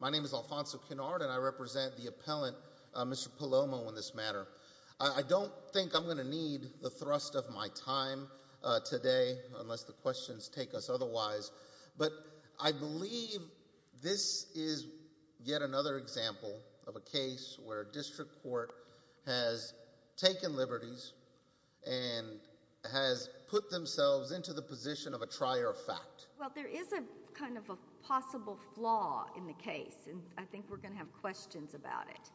My name is Alfonso Kennard, and I represent the appellant, Mr. Palomo, on this matter. the thrust of my time today, unless the questions take us otherwise. yet another example of a case where a district court has taken liberties and has put themselves into the position of a trier of fact. Well, there is a kind of a possible flaw in the case, and I think we're going to have questions about it.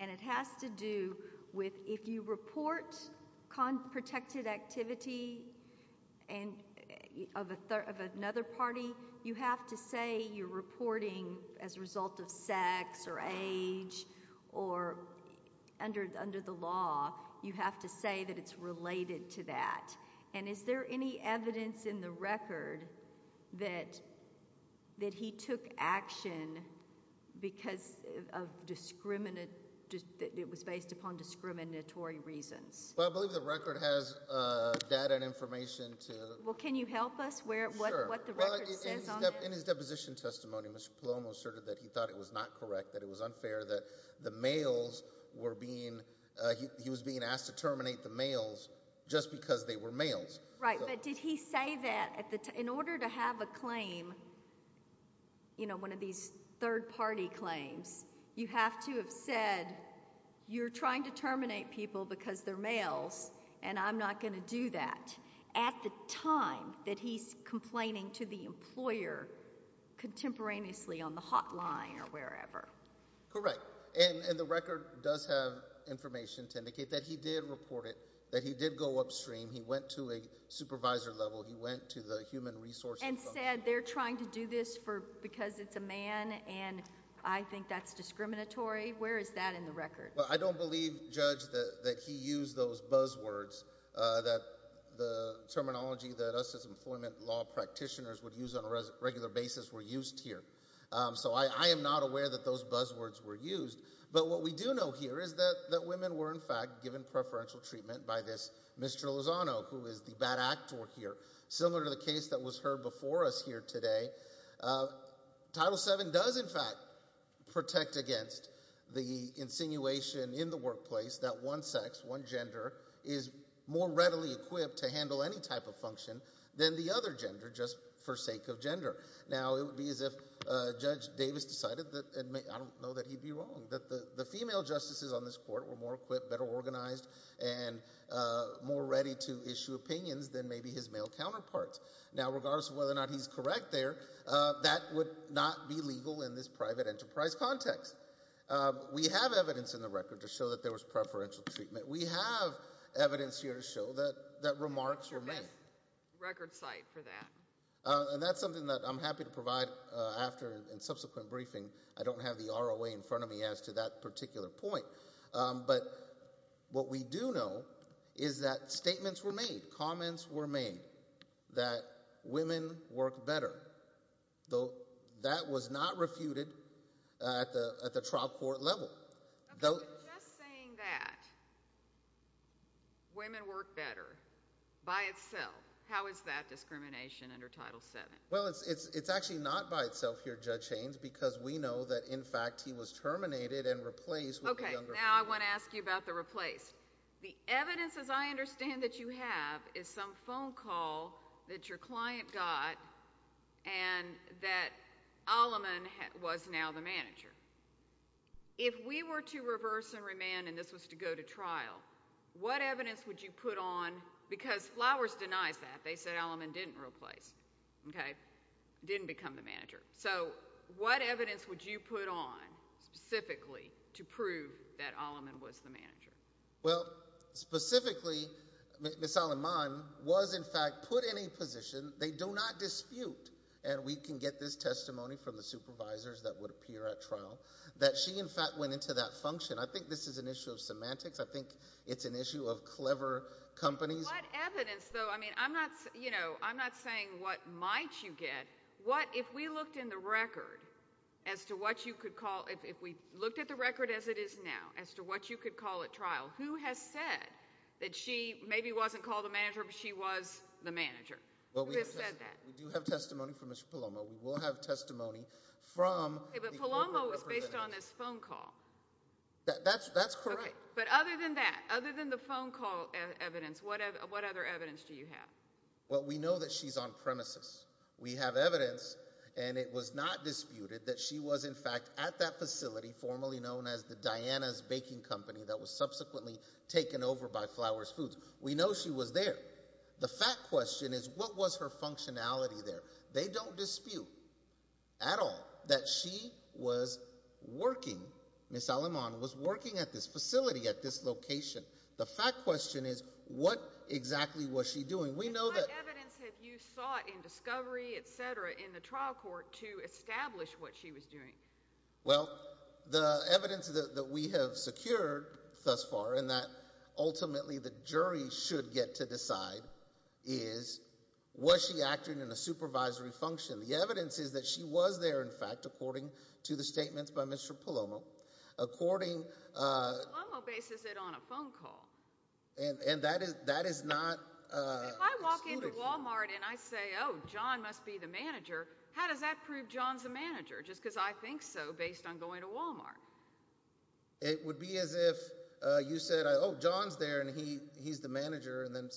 And it has to do with if you report unprotected activity of another party, you have to say you're reporting as a result of sex or age or under the law, you have to say that it's related to that. And is there any evidence in the record that he took action because it was based upon discriminatory reasons? Well, I believe the record has data and information to... Well, can you help us with what the record says? In his deposition testimony, Mr. Palomo asserted that he thought it was not correct, that it was unfair that the males were being, he was being asked to terminate the males just because they were males. Right, but did he say that in order to have a claim, you know, one of these third-party claims, you have to have said you're trying to terminate people because they're males and I'm not going to do that. At the time that he's complaining to the employer contemporaneously on the hotline or wherever. Correct. And the record does have information to indicate that he did report it, that he did go upstream, he went to a supervisor level, he went to the human resources... And said they're trying to do this because it's a man and I think that's discriminatory. Where is that in the record? I don't believe, Judge, that he used those buzzwords, that the terminology that us as employment law practitioners would use on a regular basis were used here. So I am not aware that those buzzwords were used. But what we do know here is that women were in fact given preferential treatment by this Mr. Lozano, who is the bad actor here, similar to the case that was heard before us here today. Title VII does in fact protect against the insinuation in the workplace that one sex, one gender, is more readily equipped to handle any type of function than the other gender just for sake of gender. Now it would be as if Judge Davis decided that, I don't know that he'd be wrong, that the female justices on this court were more equipped, better organized, and more ready to issue opinions than maybe his male counterparts. Now regardless of whether or not he's correct there, that would not be legal in this private enterprise context. We have evidence in the record to show that there was preferential treatment. We have evidence here to show that remarks were made. There's a record site for that. And that's something that I'm happy to provide after in subsequent briefing. I don't have the ROA in front of me as to that particular point. But what we do know is that statements were made, comments were made, that women work better, though that was not refuted at the trial court level. Okay, but just saying that women work better by itself, how is that discrimination under Title VII? Well, it's actually not by itself here, Judge Haynes, because we know that in fact he was terminated and replaced with a younger woman. Okay, now I want to ask you about the replaced. The evidence as I understand that you have is some phone call that your client got and that Alleman was now the manager. If we were to reverse and remand and this was to go to trial, what evidence would you put on, because Flowers denies that. They said Alleman didn't replace, okay, didn't become the manager. So what evidence would you put on specifically to prove that Alleman was the manager? Well, specifically Ms. Alleman was in fact put in a position, they do not dispute, and we can get this testimony from the supervisors that would appear at trial, that she in fact went into that function. I think this is an issue of semantics. I think it's an issue of clever companies. What evidence, though, I mean, I'm not saying what might you get. What if we looked in the record as to what you could call, if we looked at the record as it is now, as to what you could call at trial, who has said that she maybe wasn't called the manager, but she was the manager? Who has said that? We do have testimony from Mr. Palomo. We will have testimony from the corporate representatives. Okay, but Palomo was based on this phone call. That's correct. Okay, but other than that, other than the phone call evidence, what other evidence do you have? Well, we know that she's on premises. We have evidence, and it was not disputed, that she was in fact at that facility, formerly known as the Diana's Baking Company, that was subsequently taken over by Flowers Foods. We know she was there. The fact question is, what was her functionality there? They don't dispute at all that she was working, Ms. Aleman was working at this facility at this location. The fact question is, what exactly was she doing? What evidence have you sought in discovery, etc., in the trial court to establish what she was doing? Well, the evidence that we have secured thus far, and that ultimately the jury should get to decide, is was she acting in a supervisory function? The evidence is that she was there, in fact, according to the statements by Mr. Palomo. Mr. Palomo bases it on a phone call. And that is not... If I walk into Walmart and I say, oh, John must be the manager, how does that prove John's the manager? Just because I think so, based on going to Walmart. It would be as if you said, oh, John's there, and he's the manager, and then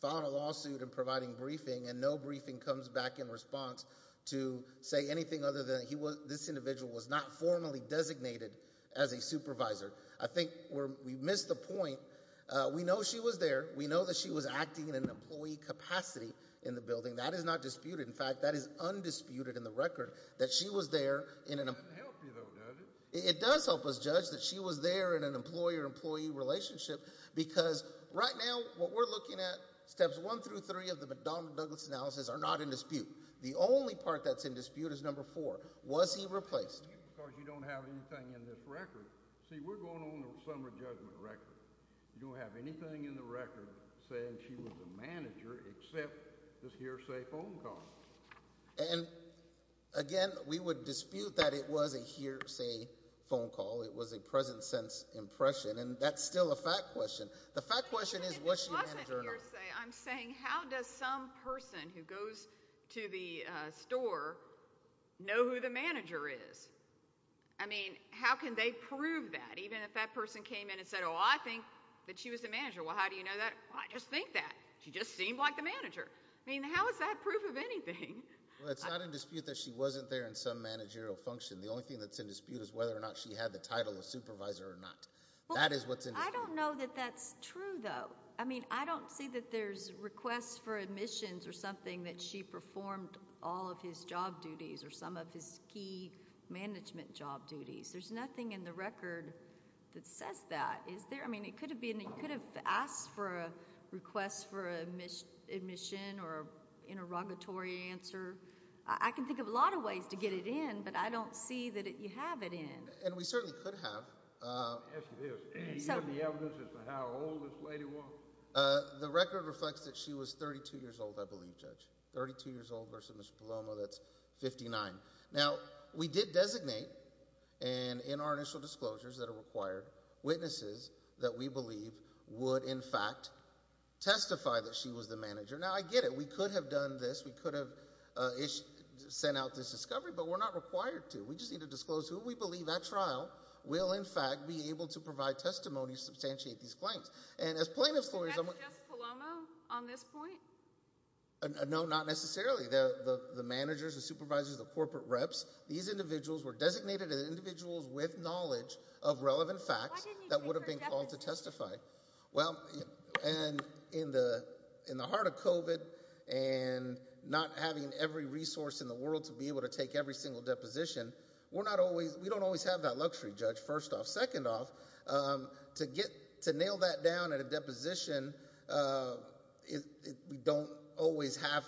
filed a lawsuit in providing briefing, and no briefing comes back in response to say anything other than this individual was not formally designated as a supervisor. I think we missed the point. We know she was there. We know that she was acting in an employee capacity in the building. That is not disputed. In fact, that is undisputed in the record that she was there in an... It doesn't help you, though, does it? It does help us judge that she was there in an employer-employee relationship because right now what we're looking at, steps one through three of the McDonnell-Douglas analysis are not in dispute. The only part that's in dispute is number four. Was he replaced? Of course, you don't have anything in this record. See, we're going on a summer judgment record. You don't have anything in the record saying she was a manager except this hearsay phone call. And again, we would dispute that it was a hearsay phone call. It was a present-sense impression, and that's still a fact question. The fact question is was she a manager or not? I'm saying how does some person who goes to the store know who the manager is? I mean, how can they prove that? Even if that person came in and said, oh, I think that she was a manager. Well, how do you know that? Well, I just think that. She just seemed like the manager. I mean, how is that proof of anything? Well, it's not in dispute that she wasn't there in some managerial function. The only thing that's in dispute is whether or not she had the title of supervisor or not. That is what's in dispute. I don't know that that's true, though. I mean, I don't see that there's requests for admissions or something that she performed all of his job duties or some of his key management job duties. There's nothing in the record that says that. I mean, it could have been that you could have asked for a request for admission or an interrogatory answer. I can think of a lot of ways to get it in, but I don't see that you have it in. And we certainly could have. Let me ask you this. Do you have the evidence as to how old this lady was? The record reflects that she was 32 years old, I believe, Judge, 32 years old versus Mr. Paloma. That's 59. Now, we did designate, and in our initial disclosures that are required, witnesses that we believe would, in fact, testify that she was the manager. Now, I get it. We could have done this. We could have sent out this discovery, but we're not required to. We just need to disclose who we believe, at trial, will, in fact, be able to provide testimony to substantiate these claims. And as plaintiff's lawyers, I'm... Is that just Paloma on this point? No, not necessarily. The managers, the supervisors, the corporate reps, these individuals were designated as individuals with knowledge of relevant facts that would have been called to testify. Well, and in the heart of COVID and not having every resource in the world to be able to take every single deposition, we're not always... We don't always have that luxury, Judge, first off. Second off, to get... To nail that down at a deposition, we don't always have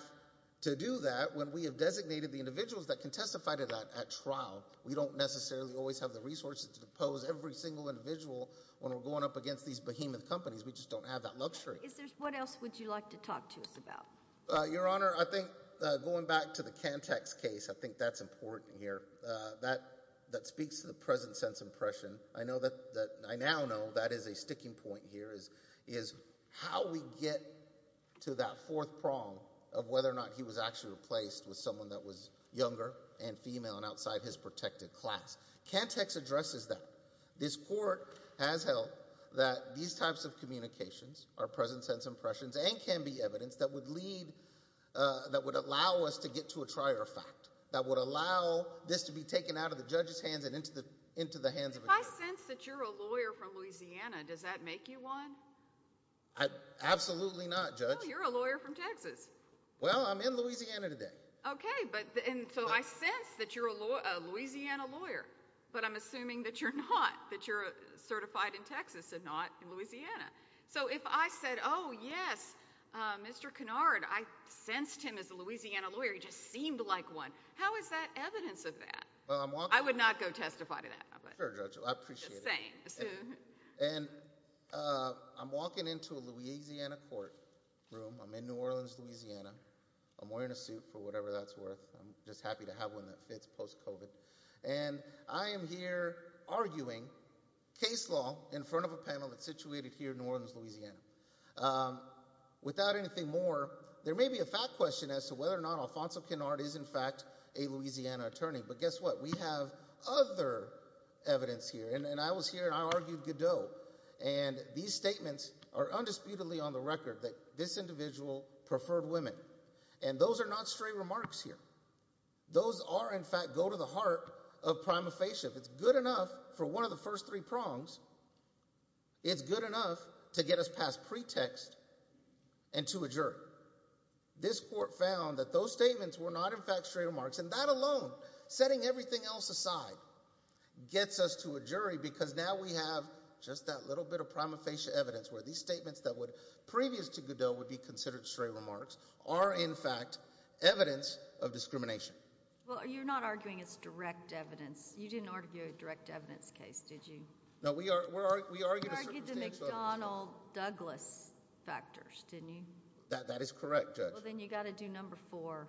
to do that. When we have designated the individuals that can testify to that at trial, we don't necessarily always have the resources to depose every single individual when we're going up against these behemoth companies. We just don't have that luxury. Is there... What else would you like to talk to us about? Your Honor, I think going back to the Cantex case, I think that's important here. That speaks to the present-sense impression. I know that... I now know that is a sticking point here is how we get to that fourth prong of whether or not he was actually replaced with someone that was younger and female and outside his protected class. Cantex addresses that. This Court has held that these types of communications are present-sense impressions and can be evidence that would lead... that would allow us to get to a trier fact, that would allow this to be taken out of the judge's hands and into the hands of a judge. If I sense that you're a lawyer from Louisiana, does that make you one? Absolutely not, Judge. You're a lawyer from Texas. Well, I'm in Louisiana today. Okay, but... And so I sense that you're a Louisiana lawyer, but I'm assuming that you're not, that you're certified in Texas and not in Louisiana. So if I said, oh, yes, Mr. Kennard, I sensed him as a Louisiana lawyer, he just seemed like one, how is that evidence of that? I would not go testify to that. Sure, Judge, I appreciate it. I'm just saying. And I'm walking into a Louisiana court room. I'm in New Orleans, Louisiana. I'm wearing a suit for whatever that's worth. I'm just happy to have one that fits post-COVID. And I am here arguing case law in front of a panel that's situated here in New Orleans, Louisiana. Without anything more, there may be a fact question as to whether or not Alfonso Kennard is, in fact, a Louisiana attorney. But guess what? We have other evidence here. And I was here and I argued Godot. And these statements are undisputedly on the record that this individual preferred women. And those are not stray remarks here. Those are, in fact, go to the heart of prima facie. If it's good enough for one of the first three prongs, it's good enough to get us past pretext and to a jury. This court found that those statements were not, in fact, stray remarks. And that alone, setting everything else aside, gets us to a jury because now we have just that little bit of prima facie evidence where these statements that would, previous to Godot, would be considered stray remarks are, in fact, evidence of discrimination. Well, you're not arguing it's direct evidence. You didn't argue a direct evidence case, did you? No, we argued a circumstance. You argued the McDonnell-Douglas factors, didn't you? That is correct, Judge. Well, then you've got to do number four.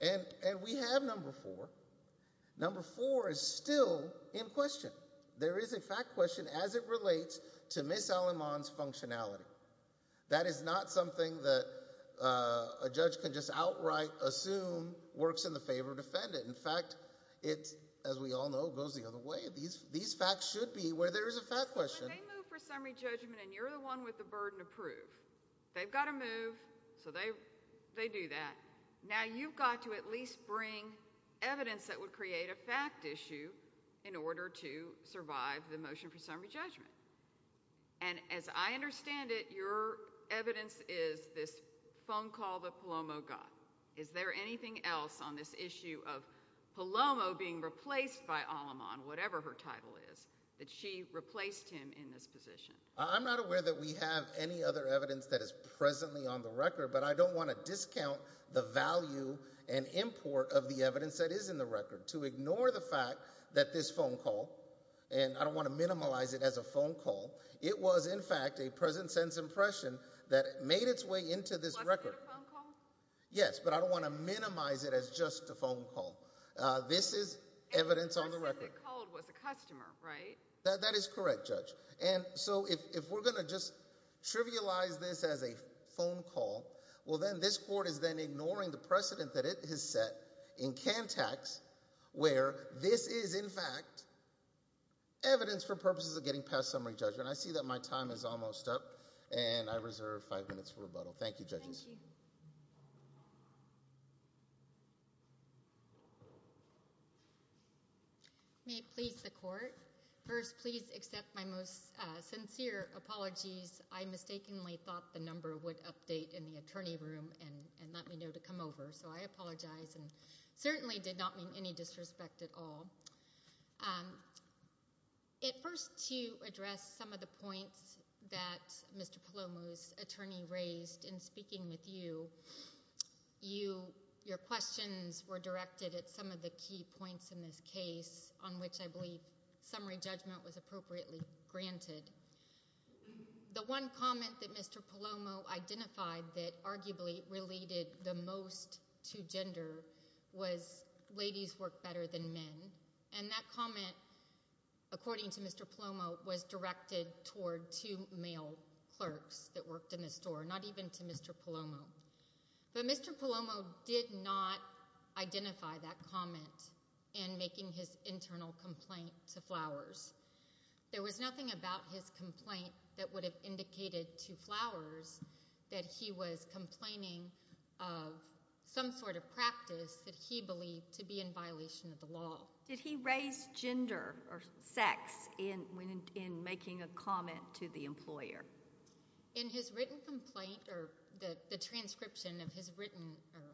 And we have number four. Number four is still in question. There is a fact question as it relates to Ms. Aleman's functionality. That is not something that a judge can just outright assume works in the favor of the defendant. In fact, it, as we all know, goes the other way. These facts should be where there is a fact question. Well, they move for summary judgment, and you're the one with the burden to prove. They've got to move, so they do that. Now, you've got to at least bring evidence that would create a fact issue in order to survive the motion for summary judgment. And as I understand it, your evidence is this phone call that Palomo got. Is there anything else on this issue of Palomo being replaced by Aleman, whatever her title is, that she replaced him in this position? I'm not aware that we have any other evidence that is presently on the record, but I don't want to discount the value and import of the evidence that is in the record to ignore the fact that this phone call, and I don't want to minimize it as a phone call, it was, in fact, a present-sense impression that made its way into this record. Wasn't it a phone call? Yes, but I don't want to minimize it as just a phone call. This is evidence on the record. And the person that called was a customer, right? That is correct, Judge. And so if we're going to just trivialize this as a phone call, well, then this court is then ignoring the precedent that it has set in Cantex, where this is, in fact, evidence for purposes of getting past summary judgment. I see that my time is almost up, and I reserve five minutes for rebuttal. Thank you, Judges. May it please the Court. First, please accept my most sincere apologies. I mistakenly thought the number would update in the attorney room and let me know to come over, so I apologize, and certainly did not mean any disrespect at all. First, to address some of the points that Mr. Palomo's attorney raised in speaking with you, your questions were directed at some of the key points in this case, on which I believe summary judgment was appropriately granted. The one comment that Mr. Palomo identified that arguably related the most to gender was, ladies work better than men. And that comment, according to Mr. Palomo, was directed toward two male clerks that worked in the store, not even to Mr. Palomo. But Mr. Palomo did not identify that comment in making his internal complaint to Flowers. There was nothing about his complaint that would have indicated to Flowers that he was complaining of some sort of practice that he believed to be in violation of the law. Did he raise gender or sex in making a comment to the employer? In his written complaint, or the transcription of his written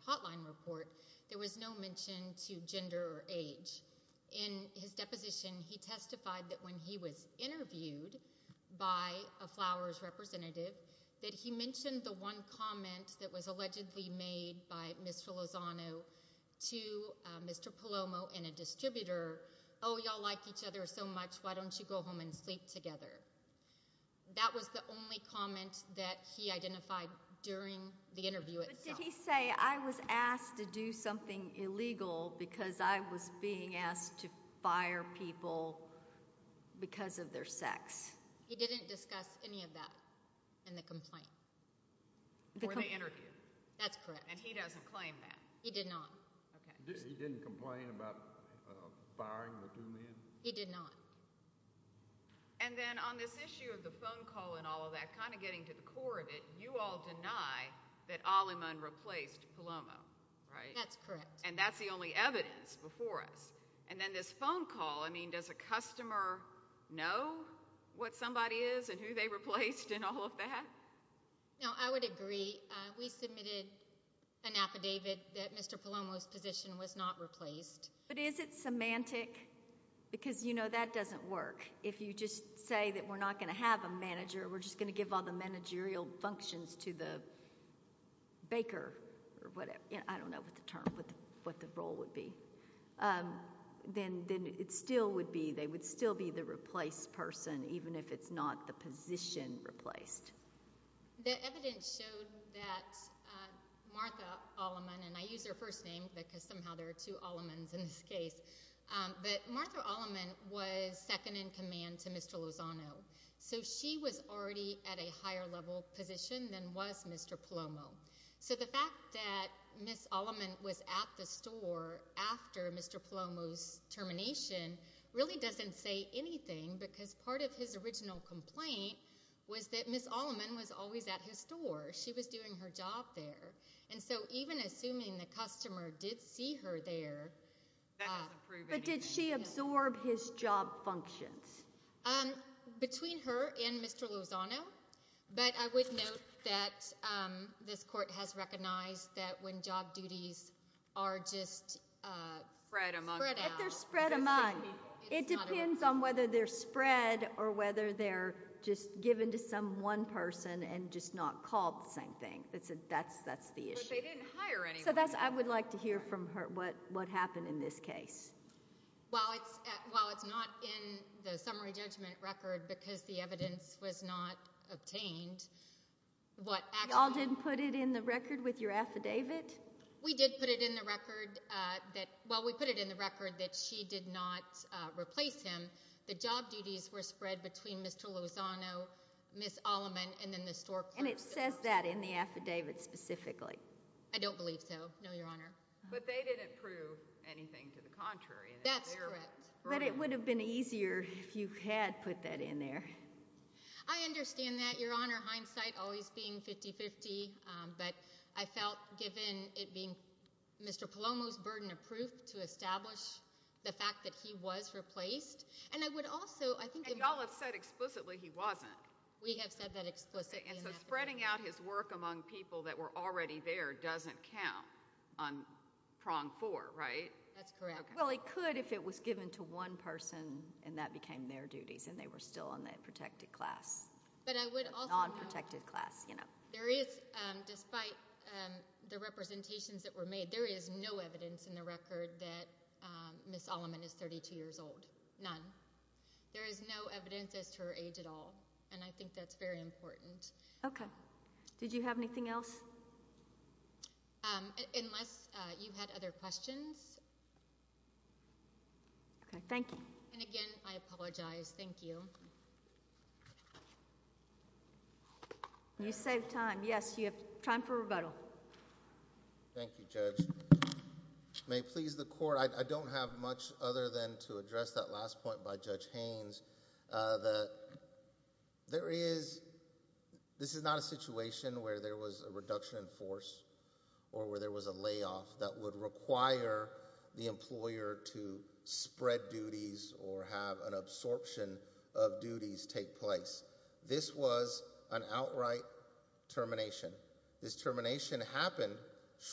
hotline report, there was no mention to gender or age. In his deposition, he testified that when he was interviewed by a Flowers representative, that he mentioned the one comment that was allegedly made by Ms. Filosano to Mr. Palomo and a distributor, oh, y'all like each other so much, why don't you go home and sleep together? That was the only comment that he identified during the interview itself. But did he say, I was asked to do something illegal because I was being asked to fire people because of their sex? He didn't discuss any of that. In the complaint. Or the interview. That's correct. And he doesn't claim that. He did not. He didn't complain about firing the two men? He did not. And then on this issue of the phone call and all of that, kind of getting to the core of it, you all deny that Aliman replaced Palomo, right? That's correct. And that's the only evidence before us. And then this phone call, I mean, does a customer know what somebody is and who they replaced and all of that? No, I would agree. We submitted an affidavit that Mr. Palomo's position was not replaced. But is it semantic? Because, you know, that doesn't work. If you just say that we're not going to have a manager, we're just going to give all the managerial functions to the baker or whatever. I don't know what the term, what the role would be. Then it still would be, they would still be the replaced person even if it's not the position replaced. The evidence showed that Martha Aliman, and I use her first name because somehow there are two Alimans in this case, but Martha Aliman was second in command to Mr. Lozano. So she was already at a higher level position than was Mr. Palomo. So the fact that Ms. Aliman was at the store after Mr. Palomo's termination really doesn't say anything because part of his original complaint was that Ms. Aliman was always at his store. She was doing her job there. And so even assuming the customer did see her there... But did she absorb his job functions? Between her and Mr. Lozano. But I would note that this court has recognized that when job duties are just spread out... It depends on whether they're spread or whether they're just given to some one person and just not called the same thing. That's the issue. So I would like to hear from her what happened in this case. While it's not in the summary judgment record because the evidence was not obtained, what actually... Y'all didn't put it in the record with your affidavit? We did put it in the record that, given that she did not replace him, the job duties were spread between Mr. Lozano, Ms. Aliman, and then the store clerk. And it says that in the affidavit specifically? I don't believe so, no, Your Honor. But they didn't prove anything to the contrary. That's correct. But it would have been easier if you had put that in there. I understand that, Your Honor. Hindsight always being 50-50. But I felt given it being Mr. Palomo's burden of proof to establish the fact that he was replaced, and I would also... And y'all have said explicitly he wasn't. We have said that explicitly. And so spreading out his work among people that were already there doesn't count on prong four, right? That's correct. Well, he could if it was given to one person and that became their duties and they were still on the protected class. But I would also... Non-protected class, you know. There is, despite the representations that were made, there is no evidence in the record that Ms. Alleman is 32 years old. None. There is no evidence as to her age at all. And I think that's very important. Okay. Did you have anything else? Unless you had other questions. Okay, thank you. And again, I apologize. Thank you. You saved time. Yes, you have time for rebuttal. Thank you, Judge. May it please the court. I don't have much other than to address that last point by Judge Haynes. That there is... This is not a situation where there was a reduction in force or where there was a layoff that would require the employer to spread duties or have an absorption of duties take place. This was an outright termination. This termination happened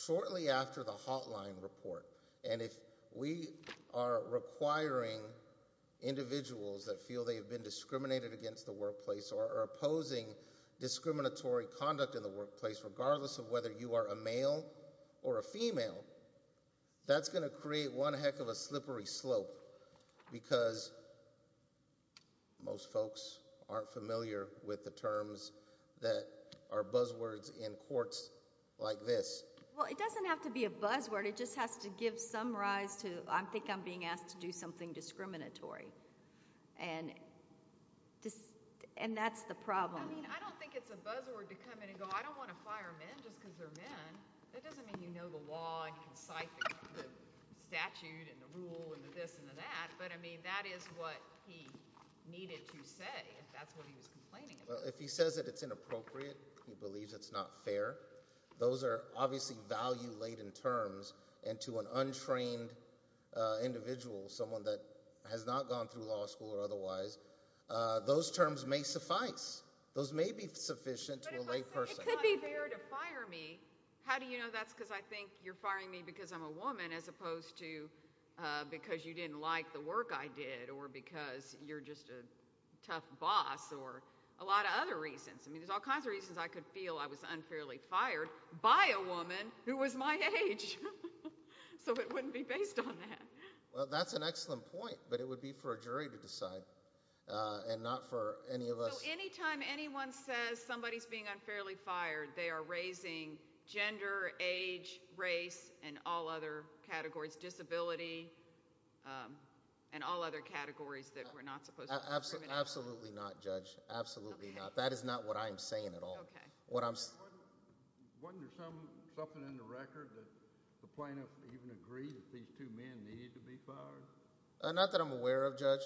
shortly after the hotline report. And if we are requiring individuals that feel they have been discriminated against the workplace or are opposing discriminatory conduct in the workplace, regardless of whether you are a male or a female, that's going to create one heck of a slippery slope because most folks aren't familiar with the terms that are buzzwords in courts like this. Well, it doesn't have to be a buzzword. It just has to give some rise to, I think I'm being asked to do something discriminatory. And that's the problem. I mean, I don't think it's a buzzword to come in and go, I don't want to fire men just because they're men. That doesn't mean you know the law and you can cite the statute and the rule and the this and the that. But, I mean, that is what he needed to say if that's what he was complaining about. If he says that it's inappropriate, he believes it's not fair, those are obviously value-laden terms. And to an untrained individual, someone that has not gone through law school or otherwise, those terms may suffice. Those may be sufficient to a lay person. But if I say it's not fair to fire me, how do you know that's because I think you're firing me because I'm a woman as opposed to because you didn't like the work I did or because you're just a tough boss or a lot of other reasons. I mean, there's all kinds of reasons I could feel I was unfairly fired by a woman who was my age. So it wouldn't be based on that. Well, that's an excellent point, but it would be for a jury to decide and not for any of us. So anytime anyone says somebody's being unfairly fired, they are raising gender, age, race, and all other categories, disability, and all other categories that we're not supposed to discriminate against. Absolutely not, Judge. Absolutely not. That is not what I'm saying at all. Wasn't there something in the record that the plaintiff even agreed that these two men needed to be fired? Not that I'm aware of, Judge.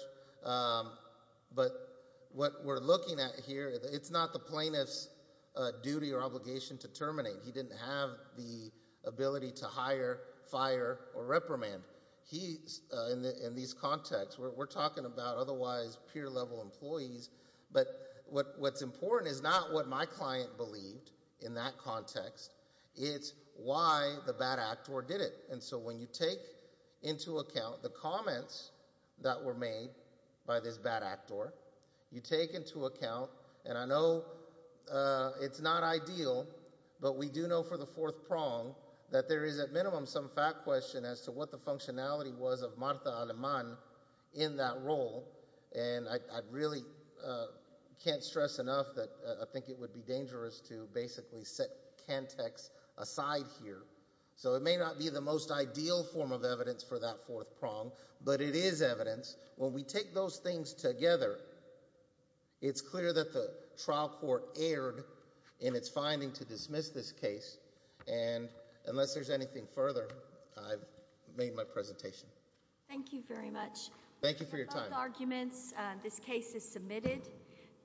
But what we're looking at here, it's not the plaintiff's duty or obligation to terminate. He didn't have the ability to hire, fire, or reprimand. In these contexts, we're talking about otherwise peer-level employees. But what's important is not what my client believed in that context. It's why the bad actor did it. And so when you take into account the comments that were made by this bad actor, you take into account, and I know it's not ideal, but we do know for the fourth prong that there is at minimum some fact question as to what the functionality was of Martha Aleman in that role. And I really can't stress enough that I think it would be dangerous to basically set context aside here. So it may not be the most ideal form of evidence for that fourth prong, but it is evidence. When we take those things together, it's clear that the trial court erred in its finding to dismiss this case. And unless there's anything further, I've made my presentation. Thank you very much. Thank you for your time. Those are both arguments. This case is submitted.